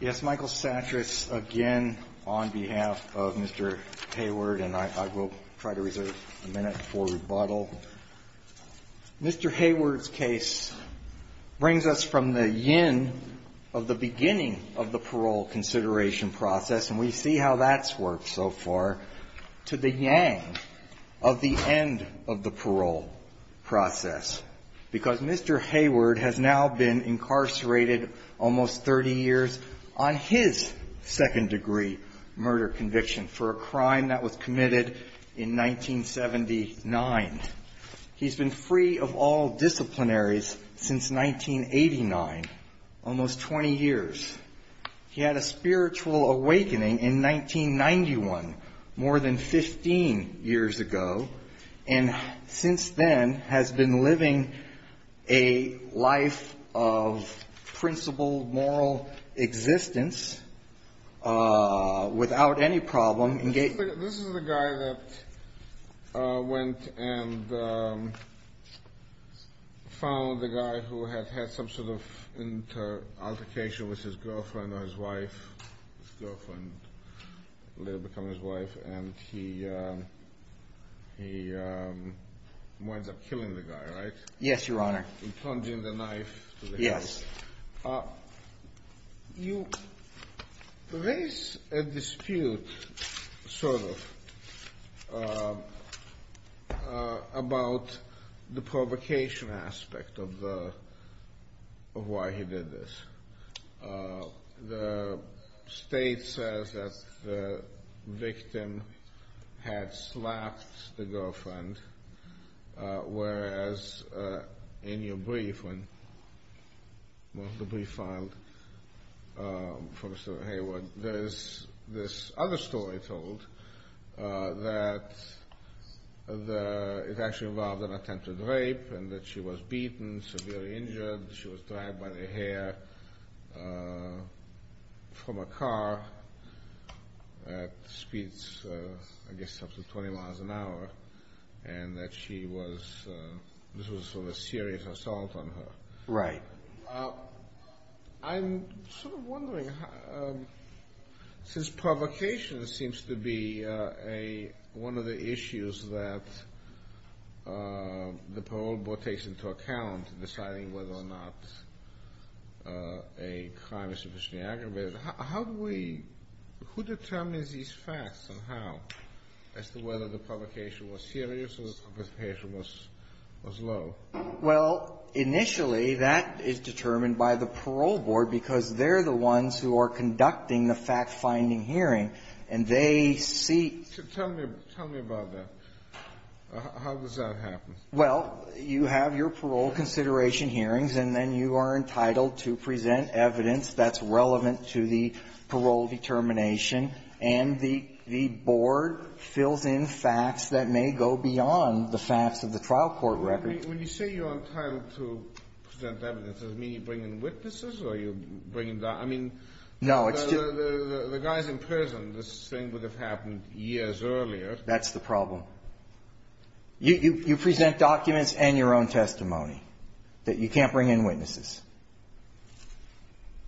Yes, Michael Satris, again, on behalf of Mr. Hayward, and I will try to reserve a minute before rebuttal. Mr. Hayward's case brings us from the yin of the beginning of the parole consideration process, and we see how that's worked so far, to the yang of the end of the parole process, because Mr. Hayward has now been incarcerated almost 30 years on his second degree murder conviction for a crime that was committed in 1979. He's been free of all awakening in 1991, more than 15 years ago, and since then has been living a life of principled moral existence without any problem. This is the guy that went and found the guy who had had some sort of altercation with his girlfriend or his wife, his girlfriend later becoming his wife, and he winds up killing the guy, right? Yes, Your Honor. In plunging the knife to the head. Yes. You raise a dispute, sort of, about the provocation aspect of why he did this. The state says that the victim had slapped the girlfriend, whereas in your brief, when the brief filed for Mr. Hayward, there's this other story told that it actually involved an attempted rape and that she was beaten, severely injured, she was dragged by the hair from a car at speeds, I guess, up to 20 miles an hour, and that she was, this was sort of a serious assault on her. Right. I'm sort of wondering, since provocation seems to be one of the issues that the parole board takes into account in deciding whether or not a crime is sufficiently aggravated, how do we, who determines these facts and how as to whether the provocation was serious or the provocation was low? Well, initially, that is determined by the parole board because they're the ones who are conducting the fact-finding hearing, and they seek to tell me about that. How does that happen? Well, you have your parole consideration hearings, and then you are entitled to present evidence that's relevant to the parole determination. And the board fills in facts that may go beyond the facts of the trial court record. When you say you're entitled to present evidence, does it mean you bring in witnesses or you bring in, I mean, the guys in prison, this thing would have happened years earlier. That's the problem. You present documents and your own testimony that you can't bring in witnesses.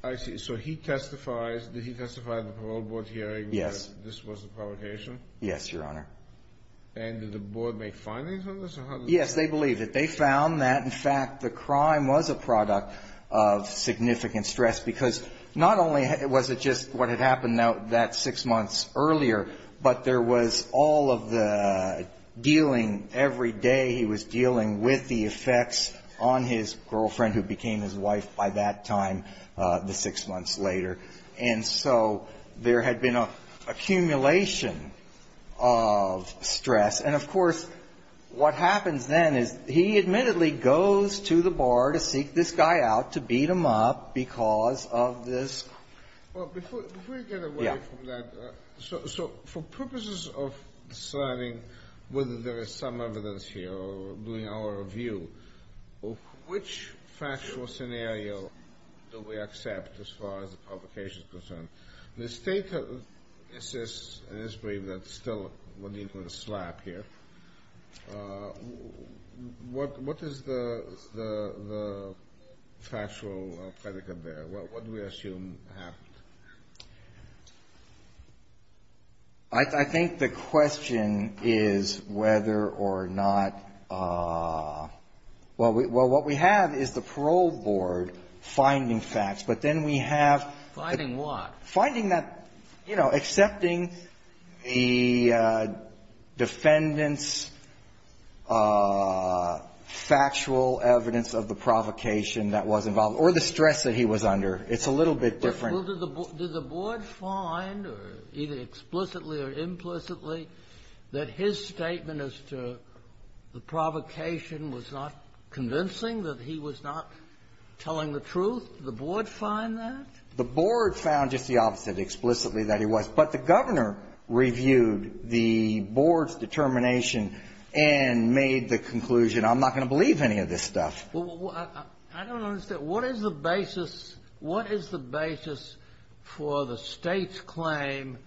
I see. So he testifies, did he testify at the parole board hearing that this was a provocation? Yes, Your Honor. And did the board make findings on this? Yes, they believed it. They found that, in fact, the crime was a product of significant stress, because not only was it just what had happened that six months earlier, but there was all of the dealing every day. He was dealing with the effects on his girlfriend who became his wife by that time, the six months later. And so there had been an accumulation of stress. And, of course, what happens then is he admittedly goes to the bar to seek this guy out, to beat him up because of this. Well, before you get away from that, so for purposes of deciding whether there is some evidence here or doing our review, which factual scenario do we accept as far as the provocation is concerned? The State assists, and it's brave that still we're not going to slap here. What is the factual predicament there? What do we assume happened? I think the question is whether or not we have is the parole board finding facts. But then we have the ---- Finding what? Finding that, you know, accepting the defendant's factual evidence of the provocation that was involved or the stress that he was under. It's a little bit different. Well, did the board find, either explicitly or implicitly, that his statement as to the provocation was not convincing, that he was not telling the truth? Did the board find that? The board found just the opposite, explicitly, that he was. But the governor reviewed the board's determination and made the conclusion, I'm not going to believe any of this stuff. I don't understand. What is the basis for the State's claim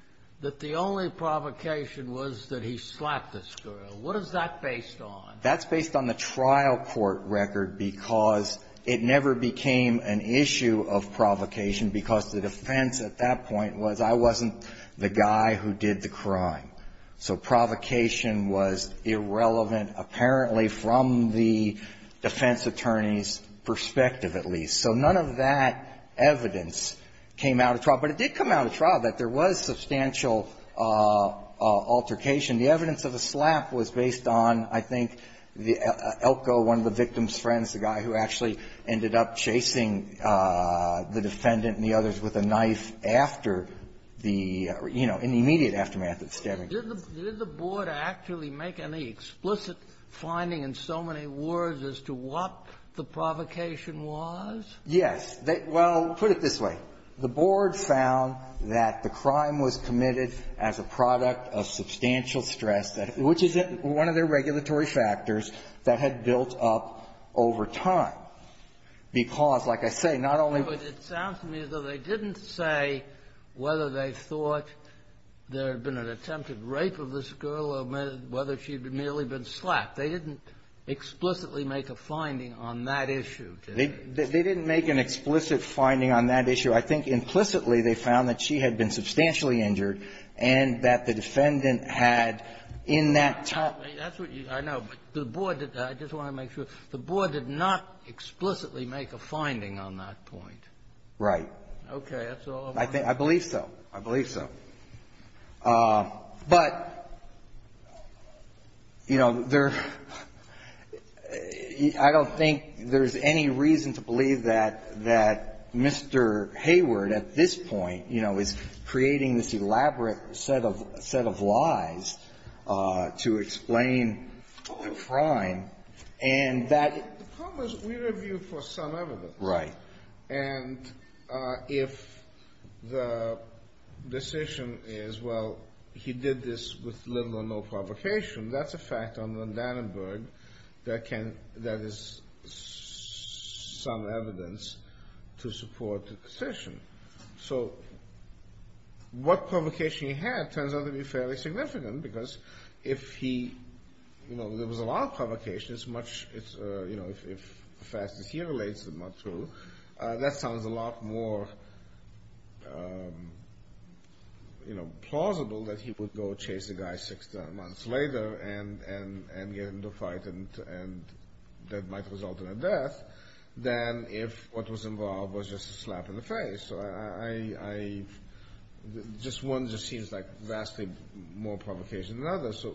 that the only provocation was that he slapped this girl? What is that based on? That's based on the trial court record because it never became an issue of provocation because the defense at that point was I wasn't the guy who did the crime. So provocation was irrelevant, apparently, from the defense attorney's perspective, at least. So none of that evidence came out of trial. But it did come out of trial that there was substantial altercation. The evidence of a slap was based on, I think, Elko, one of the victim's friends, the guy who actually ended up chasing the defendant and the others with a knife after the, you know, in the immediate aftermath of the stabbing. Did the board actually make any explicit finding in so many words as to what the provocation was? Yes. Well, put it this way. The board found that the crime was committed as a product of substantial stress, which is one of their regulatory factors that had built up over time. Because, like I say, not only was the ---- But it sounds to me as though they didn't say whether they thought there had been an attempted rape of this girl or whether she had merely been slapped. They didn't explicitly make a finding on that issue. They didn't make an explicit finding on that issue. I think implicitly they found that she had been substantially injured and that the defendant had in that time ---- That's what you ---- I know. But the board did not ---- I just want to make sure. The board did not explicitly make a finding on that point. Right. Okay. That's all I'm asking. I think ---- I believe so. I believe so. But, you know, there ---- I don't think there's any reason to believe that Mr. Hayes or Mr. Hayward at this point, you know, is creating this elaborate set of lies to explain, oh, I'm fine, and that ---- The problem is we review for some evidence. Right. And if the decision is, well, he did this with little or no provocation, that's a fact under Dannenberg that can ---- that is some evidence to support the decision. So what provocation he had turns out to be fairly significant because if he, you know, there was a lot of provocation, it's much ---- it's, you know, if the facts that he relates are not true, that sounds a lot more, you know, plausible that he would go chase the guy six months later and get into a fight and that might result in a death than if what was involved was just a slap in the face. So I ---- just one just seems like vastly more provocation than the other. So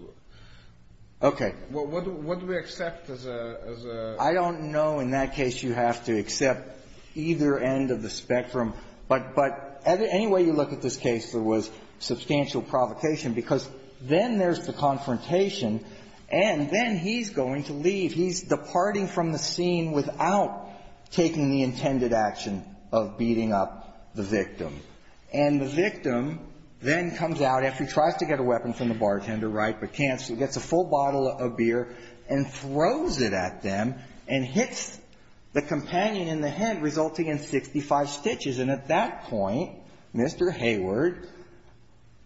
what do we accept as a ---- I don't know. In that case, you have to accept either end of the spectrum. But any way you look at this case, there was substantial provocation because then there's the confrontation and then he's going to leave. He's departing from the scene without taking the intended action of beating up the victim. And the victim then comes out after he tries to get a weapon from the bartender, right, but can't. So he gets a full bottle of beer and throws it at them and hits the companion in the head, resulting in 65 stitches. And at that point, Mr. Hayward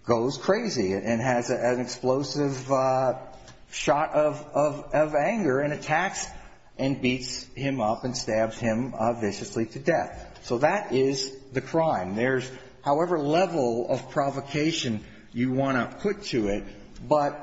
goes crazy and has an explosive shot of anger and attacks and beats him up and stabs him viciously to death. So that is the crime. There's however level of provocation you want to put to it. But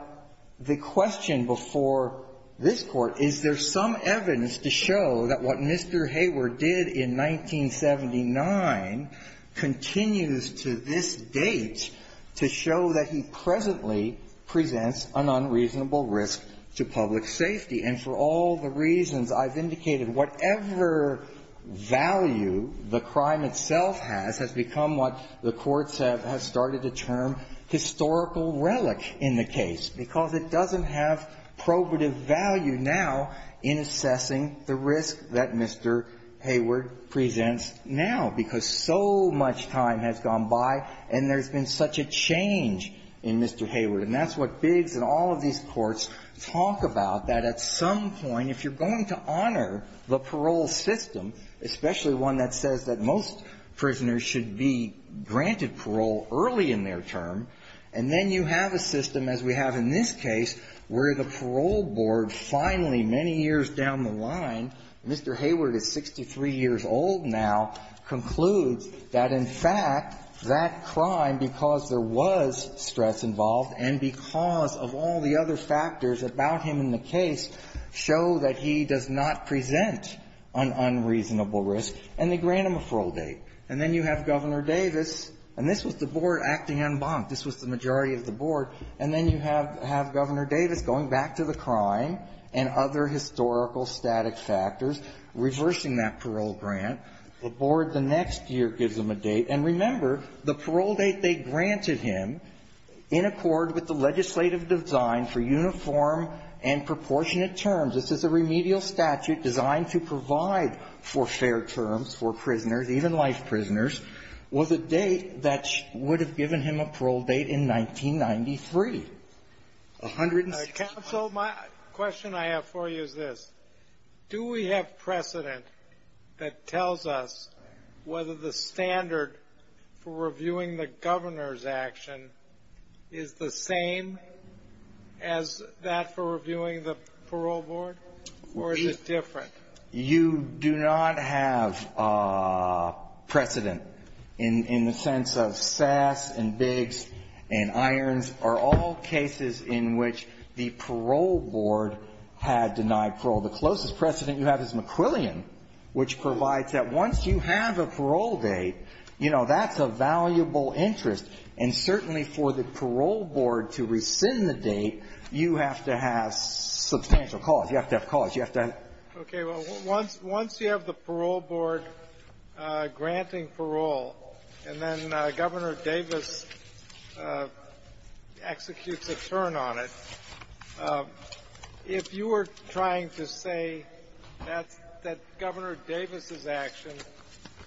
the question before this Court, is there some evidence to show that what Mr. Hayward did in 1979 continues to this date to show that he presently presents an unreasonable risk to public safety? And for all the reasons I've indicated, whatever value the crime itself has, this has become what the courts have started to term historical relic in the case. Because it doesn't have probative value now in assessing the risk that Mr. Hayward presents now. Because so much time has gone by and there's been such a change in Mr. Hayward. And that's what Biggs and all of these courts talk about, that at some point if you're going to honor the parole system, especially one that says that most prisoners should be granted parole early in their term, and then you have a system as we have in this case where the parole board finally, many years down the line, Mr. Hayward is 63 years old now, concludes that in fact that crime, because there was stress involved and because of all the other factors about him in the case, show that he does not present an unreasonable risk, and they grant him a parole date. And then you have Governor Davis, and this was the board acting en banc. This was the majority of the board. And then you have Governor Davis going back to the crime and other historical static factors, reversing that parole grant. The board the next year gives him a date. And remember, the parole date they granted him in accord with the legislative design for uniform and proportionate terms. This is a remedial statute designed to provide for fair terms for prisoners, even life prisoners, with a date that would have given him a parole date in 1993. A hundred and sixty-five. My question I have for you is this. Do we have precedent that tells us whether the standard for reviewing the Governor's action is the same as that for reviewing the parole board, or is it different? You do not have precedent in the sense of Sass and Biggs and Irons are all cases in which the parole board had denied parole. The closest precedent you have is McQuillian, which provides that once you have a parole date, you know, that's a valuable interest. And certainly for the parole board to rescind the date, you have to have substantial cause. You have to have cause. You have to have ---- Okay. Well, once you have the parole board granting parole, and then Governor Davis executes a turn on it, if you were trying to say that Governor Davis's action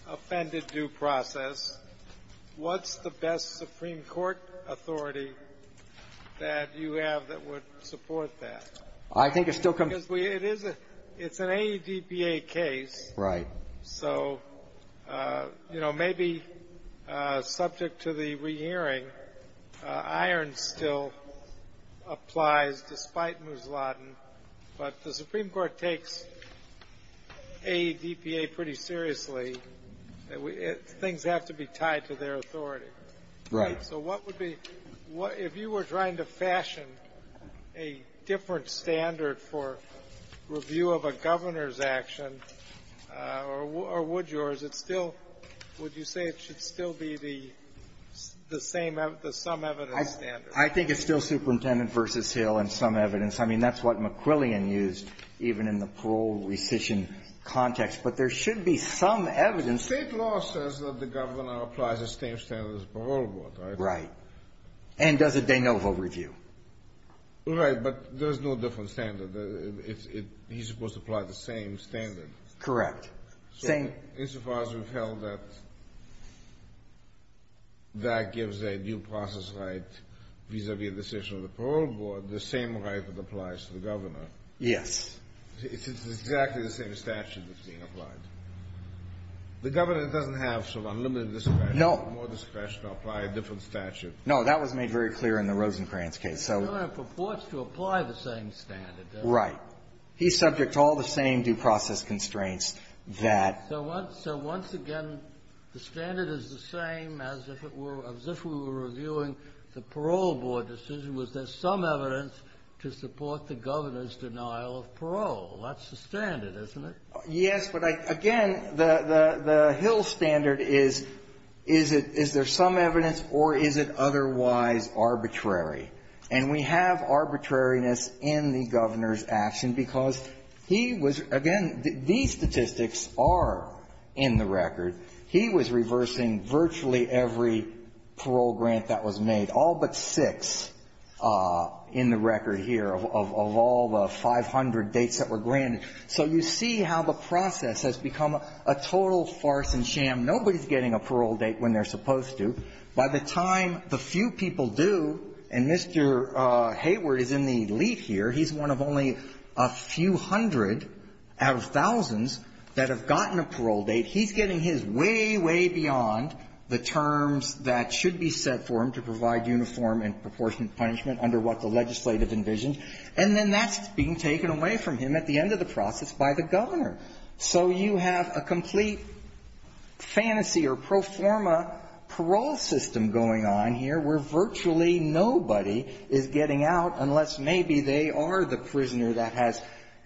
offended due process, what's the best Supreme Court authority that you have that would support that? I think it still comes ---- Because we ---- it is a ---- it's an AEDPA case. Right. So, you know, maybe subject to the re-hearing, Irons still applies despite Mouslatin. But the Supreme Court takes AEDPA pretty seriously. Things have to be tied to their authority. Right. So what would be ---- if you were trying to fashion a different standard for review of a governor's action, or would yours, it's still ---- would you say it should still be the same, the some evidence standard? I think it's still Superintendent v. Hill and some evidence. I mean, that's what McQuillian used, even in the parole rescission context. But there should be some evidence ---- State law says that the governor applies the same standard as the parole board, right? Right. And does a de novo review. Right, but there's no different standard. It's ---- he's supposed to apply the same standard. Correct. Same ---- Insofar as we've held that that gives a due process right vis-a-vis a decision of the parole board, the same right that applies to the governor. Yes. It's exactly the same statute that's being applied. The governor doesn't have sort of unlimited discretion. No. More discretion to apply a different statute. No. That was made very clear in the Rosencrantz case. So ---- The governor purports to apply the same standard. Right. He's subject to all the same due process constraints that ---- So once again, the standard is the same as if it were ---- as if we were reviewing the parole board decision, was there some evidence to support the governor's denial of parole? That's the standard, isn't it? Yes. But I ---- again, the Hill standard is, is it ---- is there some evidence or is it otherwise arbitrary? And we have arbitrariness in the governor's action because he was ---- again, these statistics are in the record. He was reversing virtually every parole grant that was made, all but six in the record here of all the 500 dates that were granted. So you see how the process has become a total farce and sham. Nobody's getting a parole date when they're supposed to. By the time the few people do, and Mr. Hayward is in the lead here. He's one of only a few hundred out of thousands that have gotten a parole date. He's getting his way, way beyond the terms that should be set for him to provide uniform and proportionate punishment under what the legislative envisioned. And then that's being taken away from him at the end of the process by the governor. So you have a complete fantasy or pro forma parole system going on here where virtually nobody is getting out unless maybe they are the prisoner that has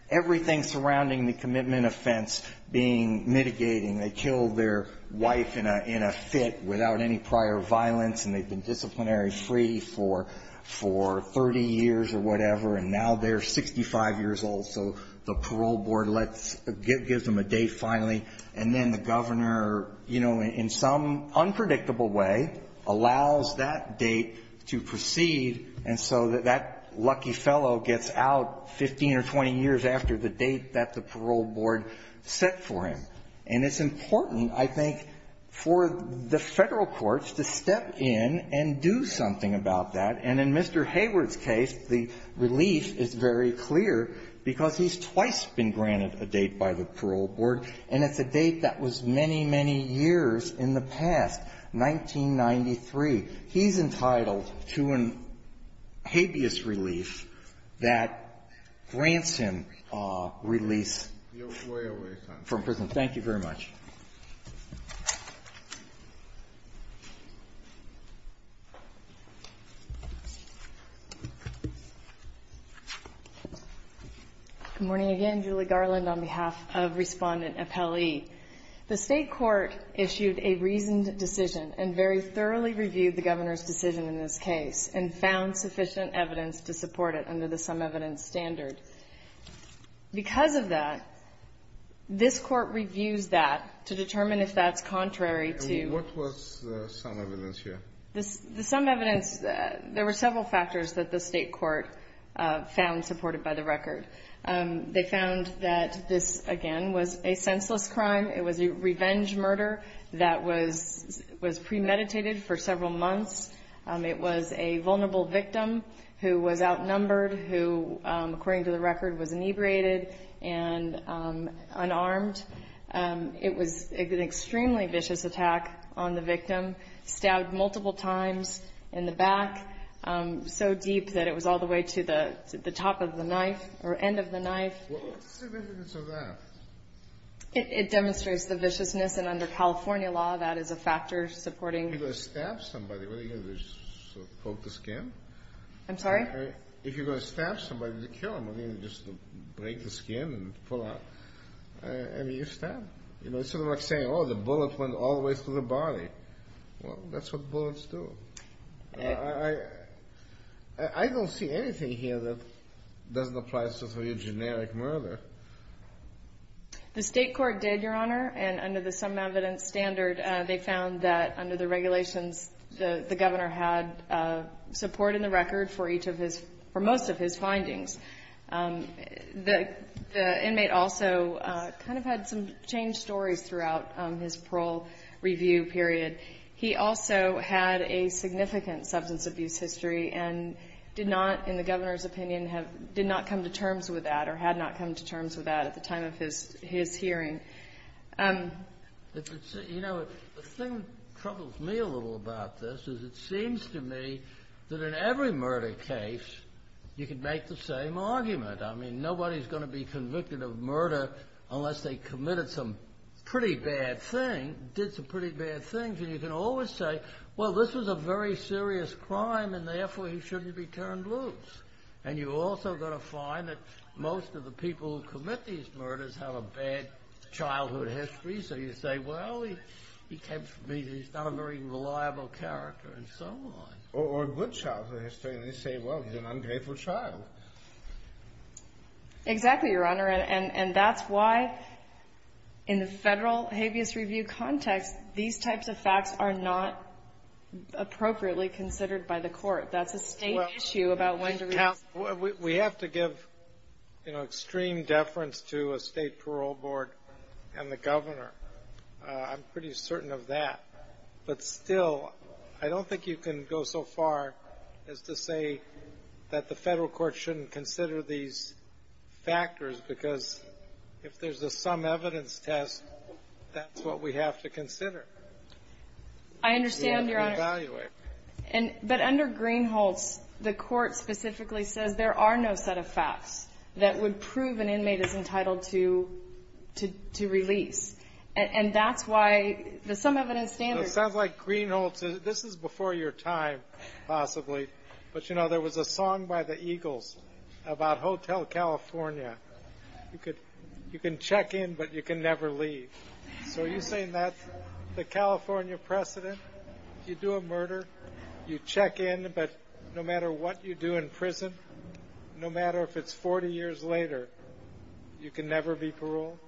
everything surrounding the commitment offense being mitigating. They killed their wife in a fit without any prior violence, and they've been disciplinary free for 30 years or whatever, and now they're 65 years old. So the parole board gives them a date finally, and then the governor, you know, in some unpredictable way, allows that date to proceed. And so that lucky fellow gets out 15 or 20 years after the date that the parole board set for him. And it's important, I think, for the Federal courts to step in and do something about that. And in Mr. Hayward's case, the relief is very clear because he's twice been granted a date by the parole board, and it's a date that was many, many years in the past, 1993. He's entitled to a habeas relief that grants him release from prison. Thank you very much. Good morning again. Julie Garland on behalf of Respondent Appellee. The state court issued a reasoned decision and very thoroughly reviewed the governor's decision in this case and found sufficient evidence to support it under the sum evidence standard. Because of that, this court reviews that to determine if that's contrary to... What was the sum evidence here? The sum evidence, there were several factors that the state court found supported by the record. They found that this, again, was a senseless crime. It was a revenge murder that was premeditated for several months. It was a vulnerable victim who was outnumbered, who, according to the record, was inebriated and unarmed. It was an extremely vicious attack on the victim, stabbed multiple times in the end of the knife. What's the significance of that? It demonstrates the viciousness, and under California law, that is a factor supporting... If you're going to stab somebody, what are you going to do, poke the skin? I'm sorry? If you're going to stab somebody to kill them, are you going to just break the skin and pull out? I mean, you stab. It's sort of like saying, oh, the bullet went all the way through the body. Well, that's what bullets do. I don't see anything here that doesn't apply to a generic murder. The state court did, Your Honor, and under the sum evidence standard, they found that under the regulations, the governor had support in the record for most of his findings. The inmate also kind of had some changed stories throughout his parole review period. He also had a significant substance abuse history and did not, in the governor's opinion, did not come to terms with that or had not come to terms with that at the time of his hearing. You know, the thing that troubles me a little about this is it seems to me that in every murder case, you can make the same argument. I mean, nobody's going to be convicted of murder unless they committed some pretty bad things. And you can always say, well, this was a very serious crime and therefore he shouldn't be turned loose. And you're also going to find that most of the people who commit these murders have a bad childhood history. So you say, well, he's not a very reliable character and so on. Or a good childhood history. And they say, well, he's an ungrateful child. Exactly, Your Honor. And that's why in the Federal habeas review context, these types of facts are not appropriately considered by the Court. That's a State issue about when to review. Well, we have to give, you know, extreme deference to a State parole board and the governor. I'm pretty certain of that. But still, I don't think you can go so far as to say that the Federal court should consider these factors because if there's a sum evidence test, that's what we have to consider. I understand, Your Honor. But under Greenholtz, the Court specifically says there are no set of facts that would prove an inmate is entitled to release. And that's why the sum evidence standard. It sounds like Greenholtz, this is before your time, possibly. But, you know, there was a song by the Eagles about Hotel California. You can check in, but you can never leave. So are you saying that the California precedent, you do a murder, you check in, but no matter what you do in prison, no matter if it's 40 years later, you can never be paroled?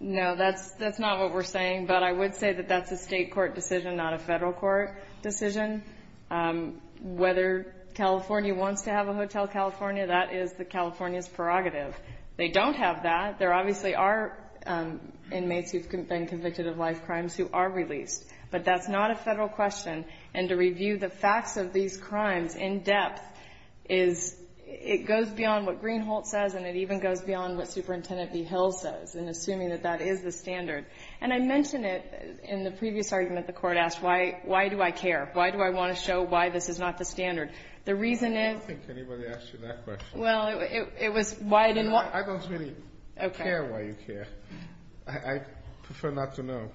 No, that's not what we're saying. But I would say that that's a State court decision, not a Federal court decision. Whether California wants to have a Hotel California, that is the California's prerogative. They don't have that. There obviously are inmates who have been convicted of life crimes who are released. But that's not a Federal question. And to review the facts of these crimes in depth is, it goes beyond what Greenholtz says and it even goes beyond what Superintendent B. Hill says in assuming that that is the standard. And I mention it in the previous argument the Court asked, why do I care? Why do I want to show why this is not the standard? The reason is — I don't think anybody asked you that question. Well, it was why I didn't want — I don't really care why you care. Okay. I prefer not to know.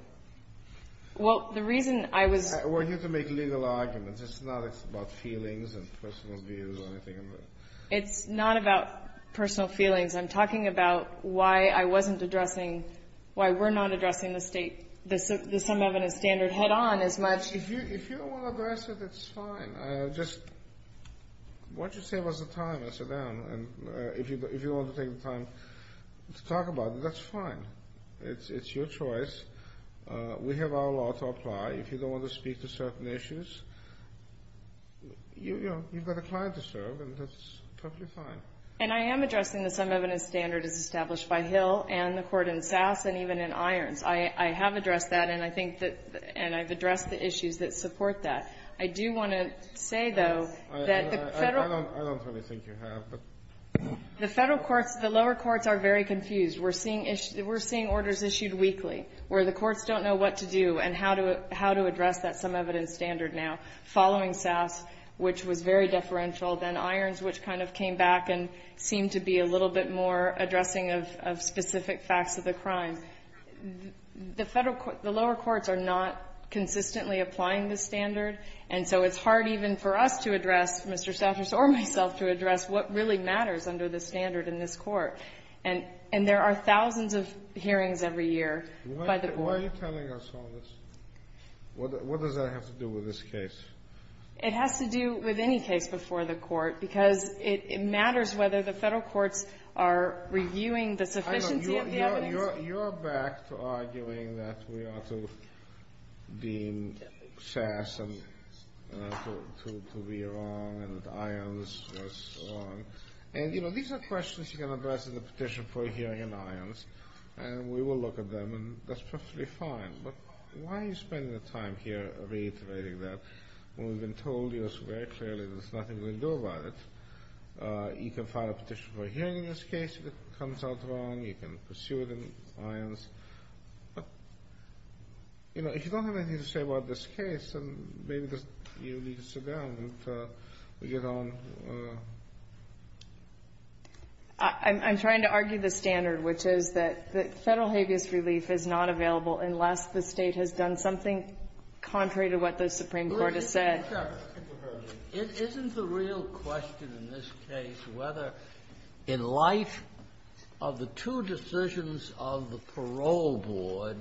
Well, the reason I was — We're here to make legal arguments. It's not about feelings and personal views or anything. It's not about personal feelings. I'm talking about why I wasn't addressing — why we're not addressing the state — the some-evidence standard head-on as much. If you don't want to address it, it's fine. Just — Why don't you save us the time and sit down? And if you want to take the time to talk about it, that's fine. It's your choice. We have our law to apply. If you don't want to speak to certain issues, you've got a client to serve, and that's perfectly fine. And I am addressing the some-evidence standard as established by Hill and the Court in Sass and even in Irons. I have addressed that, and I think that — and I've addressed the issues that support that. I do want to say, though, that the Federal — I don't really think you have, but — The Federal courts — the lower courts are very confused. We're seeing — we're seeing orders issued weekly where the courts don't know what to do and how to address that some-evidence standard now, following Sass, which was very deferential, then Irons, which kind of came back and seemed to be a little bit more addressing of specific facts of the crime. The Federal — the lower courts are not consistently applying this standard, and so it's hard even for us to address, Mr. Stafferson or myself, to address what really matters under the standard in this Court. And there are thousands of hearings every year by the Court. Why are you telling us all this? What does that have to do with this case? It has to do with any case before the Court, because it matters whether the Federal courts are reviewing the sufficiency of the evidence. I know. You're back to arguing that we ought to deem Sass to be wrong and that Irons was wrong. And, you know, these are questions you can address in the petition for a hearing in Irons, and we will look at them, and that's perfectly fine. But why are you spending the time here reiterating that when we've been told to us very clearly there's nothing we can do about it? You can file a petition for a hearing in this case if it comes out wrong. You can pursue it in Irons. But, you know, if you don't have anything to say about this case, then maybe you need to sit down and get on. I'm trying to argue the standard, which is that Federal habeas relief is not available unless the State has done something contrary to what the Supreme Court has said. It isn't the real question in this case whether in light of the two decisions of the parole board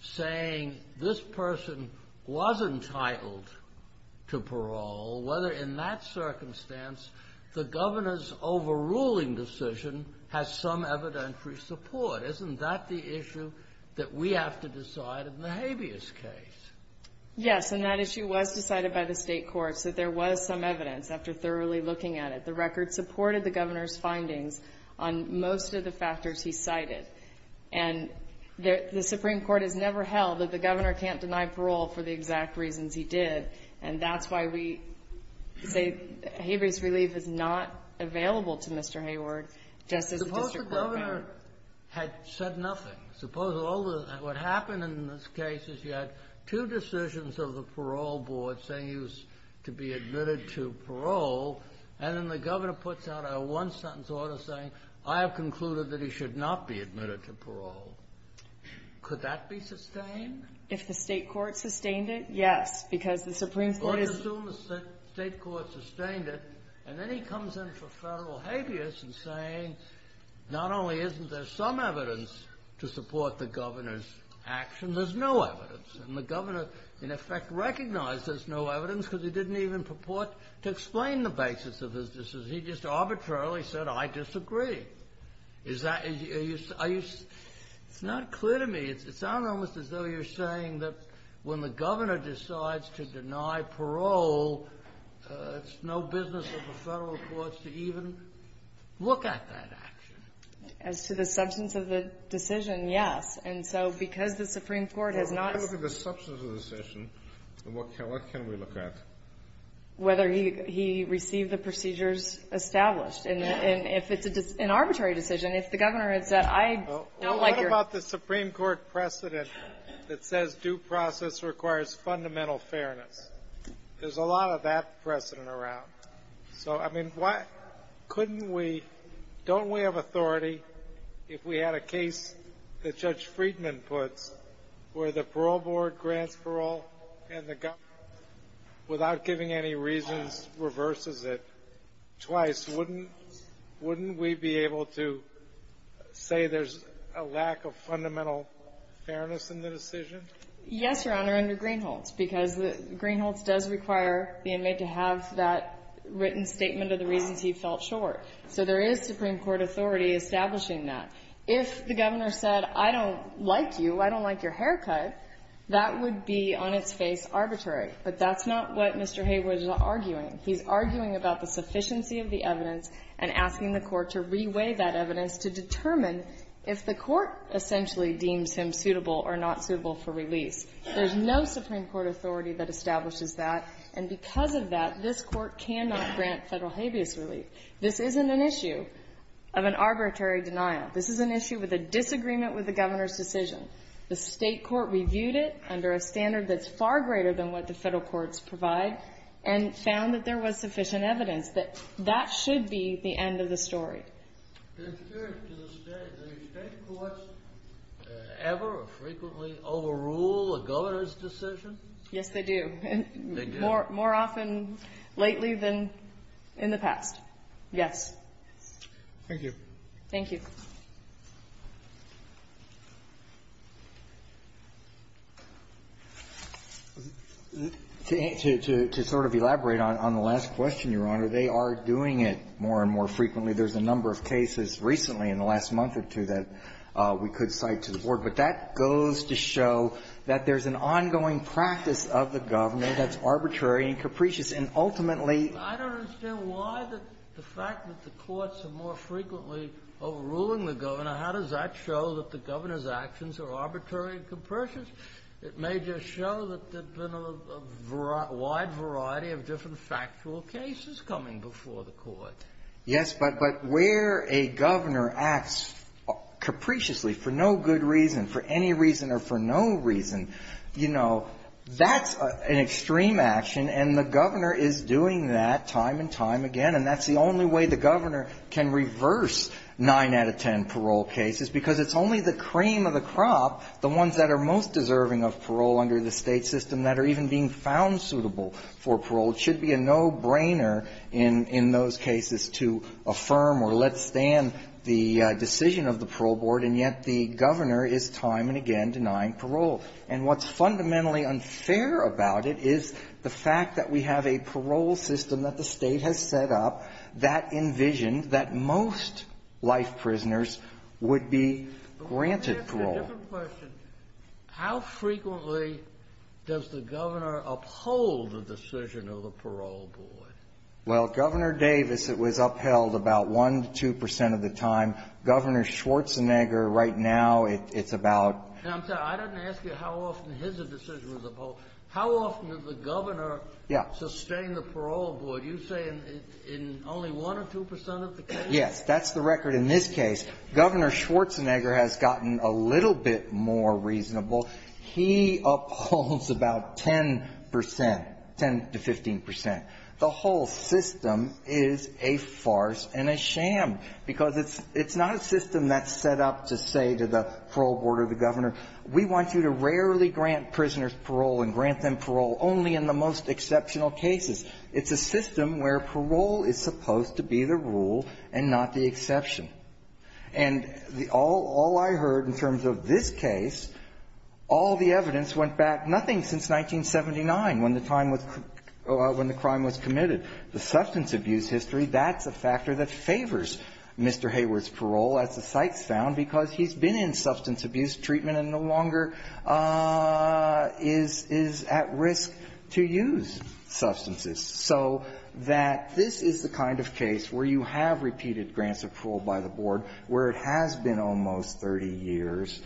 saying this person was entitled to parole, whether in that circumstance the Governor's overruling decision has some evidentiary support. Isn't that the issue that we have to decide in the habeas case? Yes, and that issue was decided by the State courts, that there was some evidence after thoroughly looking at it. The record supported the Governor's findings on most of the factors he cited. And the Supreme Court has never held that the Governor can't deny parole for the exact reasons he did, and that's why we say habeas relief is not available to Mr. Hayward just as the district court found it. The district court had said nothing. Suppose all the — what happened in this case is you had two decisions of the parole board saying he was to be admitted to parole, and then the Governor puts out a one-sentence order saying, I have concluded that he should not be admitted to parole. Could that be sustained? If the State court sustained it, yes, because the Supreme Court is — Or assume the State court sustained it, and then he comes in for Federal habeas and saying, not only isn't there some evidence to support the Governor's action, there's no evidence. And the Governor, in effect, recognized there's no evidence because he didn't even purport to explain the basis of his decision. He just arbitrarily said, I disagree. Is that — are you — it's not clear to me. It sounds almost as though you're saying that when the Governor decides to deny parole, it's no business of the Federal courts to even look at that action. As to the substance of the decision, yes. And so because the Supreme Court has not — Well, if we look at the substance of the decision, what can we look at? Whether he received the procedures established. And if it's an arbitrary decision, if the Governor had said, I don't like your — Well, what about the Supreme Court precedent that says due process requires fundamental fairness? There's a lot of that precedent around. So, I mean, couldn't we — don't we have authority if we had a case that Judge Friedman puts where the Parole Board grants parole and the Governor, without giving any reasons, reverses it twice? Wouldn't we be able to say there's a lack of fundamental fairness in the decision? Yes, Your Honor, under Greenholz, because Greenholz does require the inmate to have that written statement of the reasons he felt short. So there is Supreme Court authority establishing that. If the Governor said, I don't like you, I don't like your haircut, that would be on its face arbitrary. But that's not what Mr. Haywood is arguing. He's arguing about the sufficiency of the evidence and asking the Court to reweigh that evidence to determine if the Court essentially deems him suitable or not suitable for release. There's no Supreme Court authority that establishes that. And because of that, this Court cannot grant Federal habeas relief. This isn't an issue of an arbitrary denial. This is an issue with a disagreement with the Governor's decision. The State court reviewed it under a standard that's far greater than what the Federal courts provide and found that there was sufficient evidence that that should be the end of the story. The State courts ever or frequently overrule a Governor's decision? Yes, they do. They do? More often lately than in the past. Yes. Thank you. Thank you. To sort of elaborate on the last question, Your Honor, they are doing it more and more frequently. There's a number of cases recently in the last month or two that we could cite to the Board. But that goes to show that there's an ongoing practice of the Governor that's arbitrary and capricious. And ultimately — I don't understand why the fact that the courts are more frequently overruling the Governor, how does that show that the Governor's actions are arbitrary and capricious? It may just show that there's been a wide variety of different factual cases coming before the Court. Yes. But where a Governor acts capriciously for no good reason, for any reason or for no reason, you know, that's an extreme action. And the Governor is doing that time and time again. And that's the only way the Governor can reverse 9 out of 10 parole cases, because it's only the cream of the crop, the ones that are most deserving of parole under the State system that are even being found suitable for parole, should be a no-brainer in those cases to affirm or let stand the decision of the Parole Board. And yet the Governor is time and again denying parole. And what's fundamentally unfair about it is the fact that we have a parole system that the State has set up that envisioned that most life prisoners would be granted parole. It's a different question. How frequently does the Governor uphold the decision of the Parole Board? Well, Governor Davis, it was upheld about 1 to 2 percent of the time. Governor Schwarzenegger, right now, it's about — Now, I'm sorry. I didn't ask you how often his decision was upheld. How often does the Governor — Yes. — sustain the Parole Board? You say in only 1 or 2 percent of the cases? Yes. That's the record in this case. Governor Schwarzenegger has gotten a little bit more reasonable. He upholds about 10 percent, 10 to 15 percent. The whole system is a farce and a sham because it's not a system that's set up to say to the Parole Board or the Governor, we want you to rarely grant prisoners parole and grant them parole only in the most exceptional cases. It's a system where parole is supposed to be the rule and not the exception. And the — all I heard in terms of this case, all the evidence went back nothing since 1979, when the time was — when the crime was committed. The substance abuse history, that's a factor that favors Mr. Hayward's parole, as the cites found, because he's been in substance abuse treatment and no longer is at risk to use substances. So that this is the kind of case where you have repeated grants of parole by the board, where it has been almost 30 years,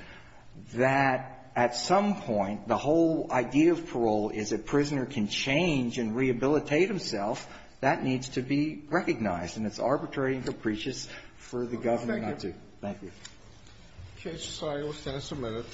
that at some point the whole idea of parole is a prisoner can change and rehabilitate himself. That needs to be recognized. And it's arbitrary and capricious for the Governor not to. Thank you. Okay. We'll stand a minute.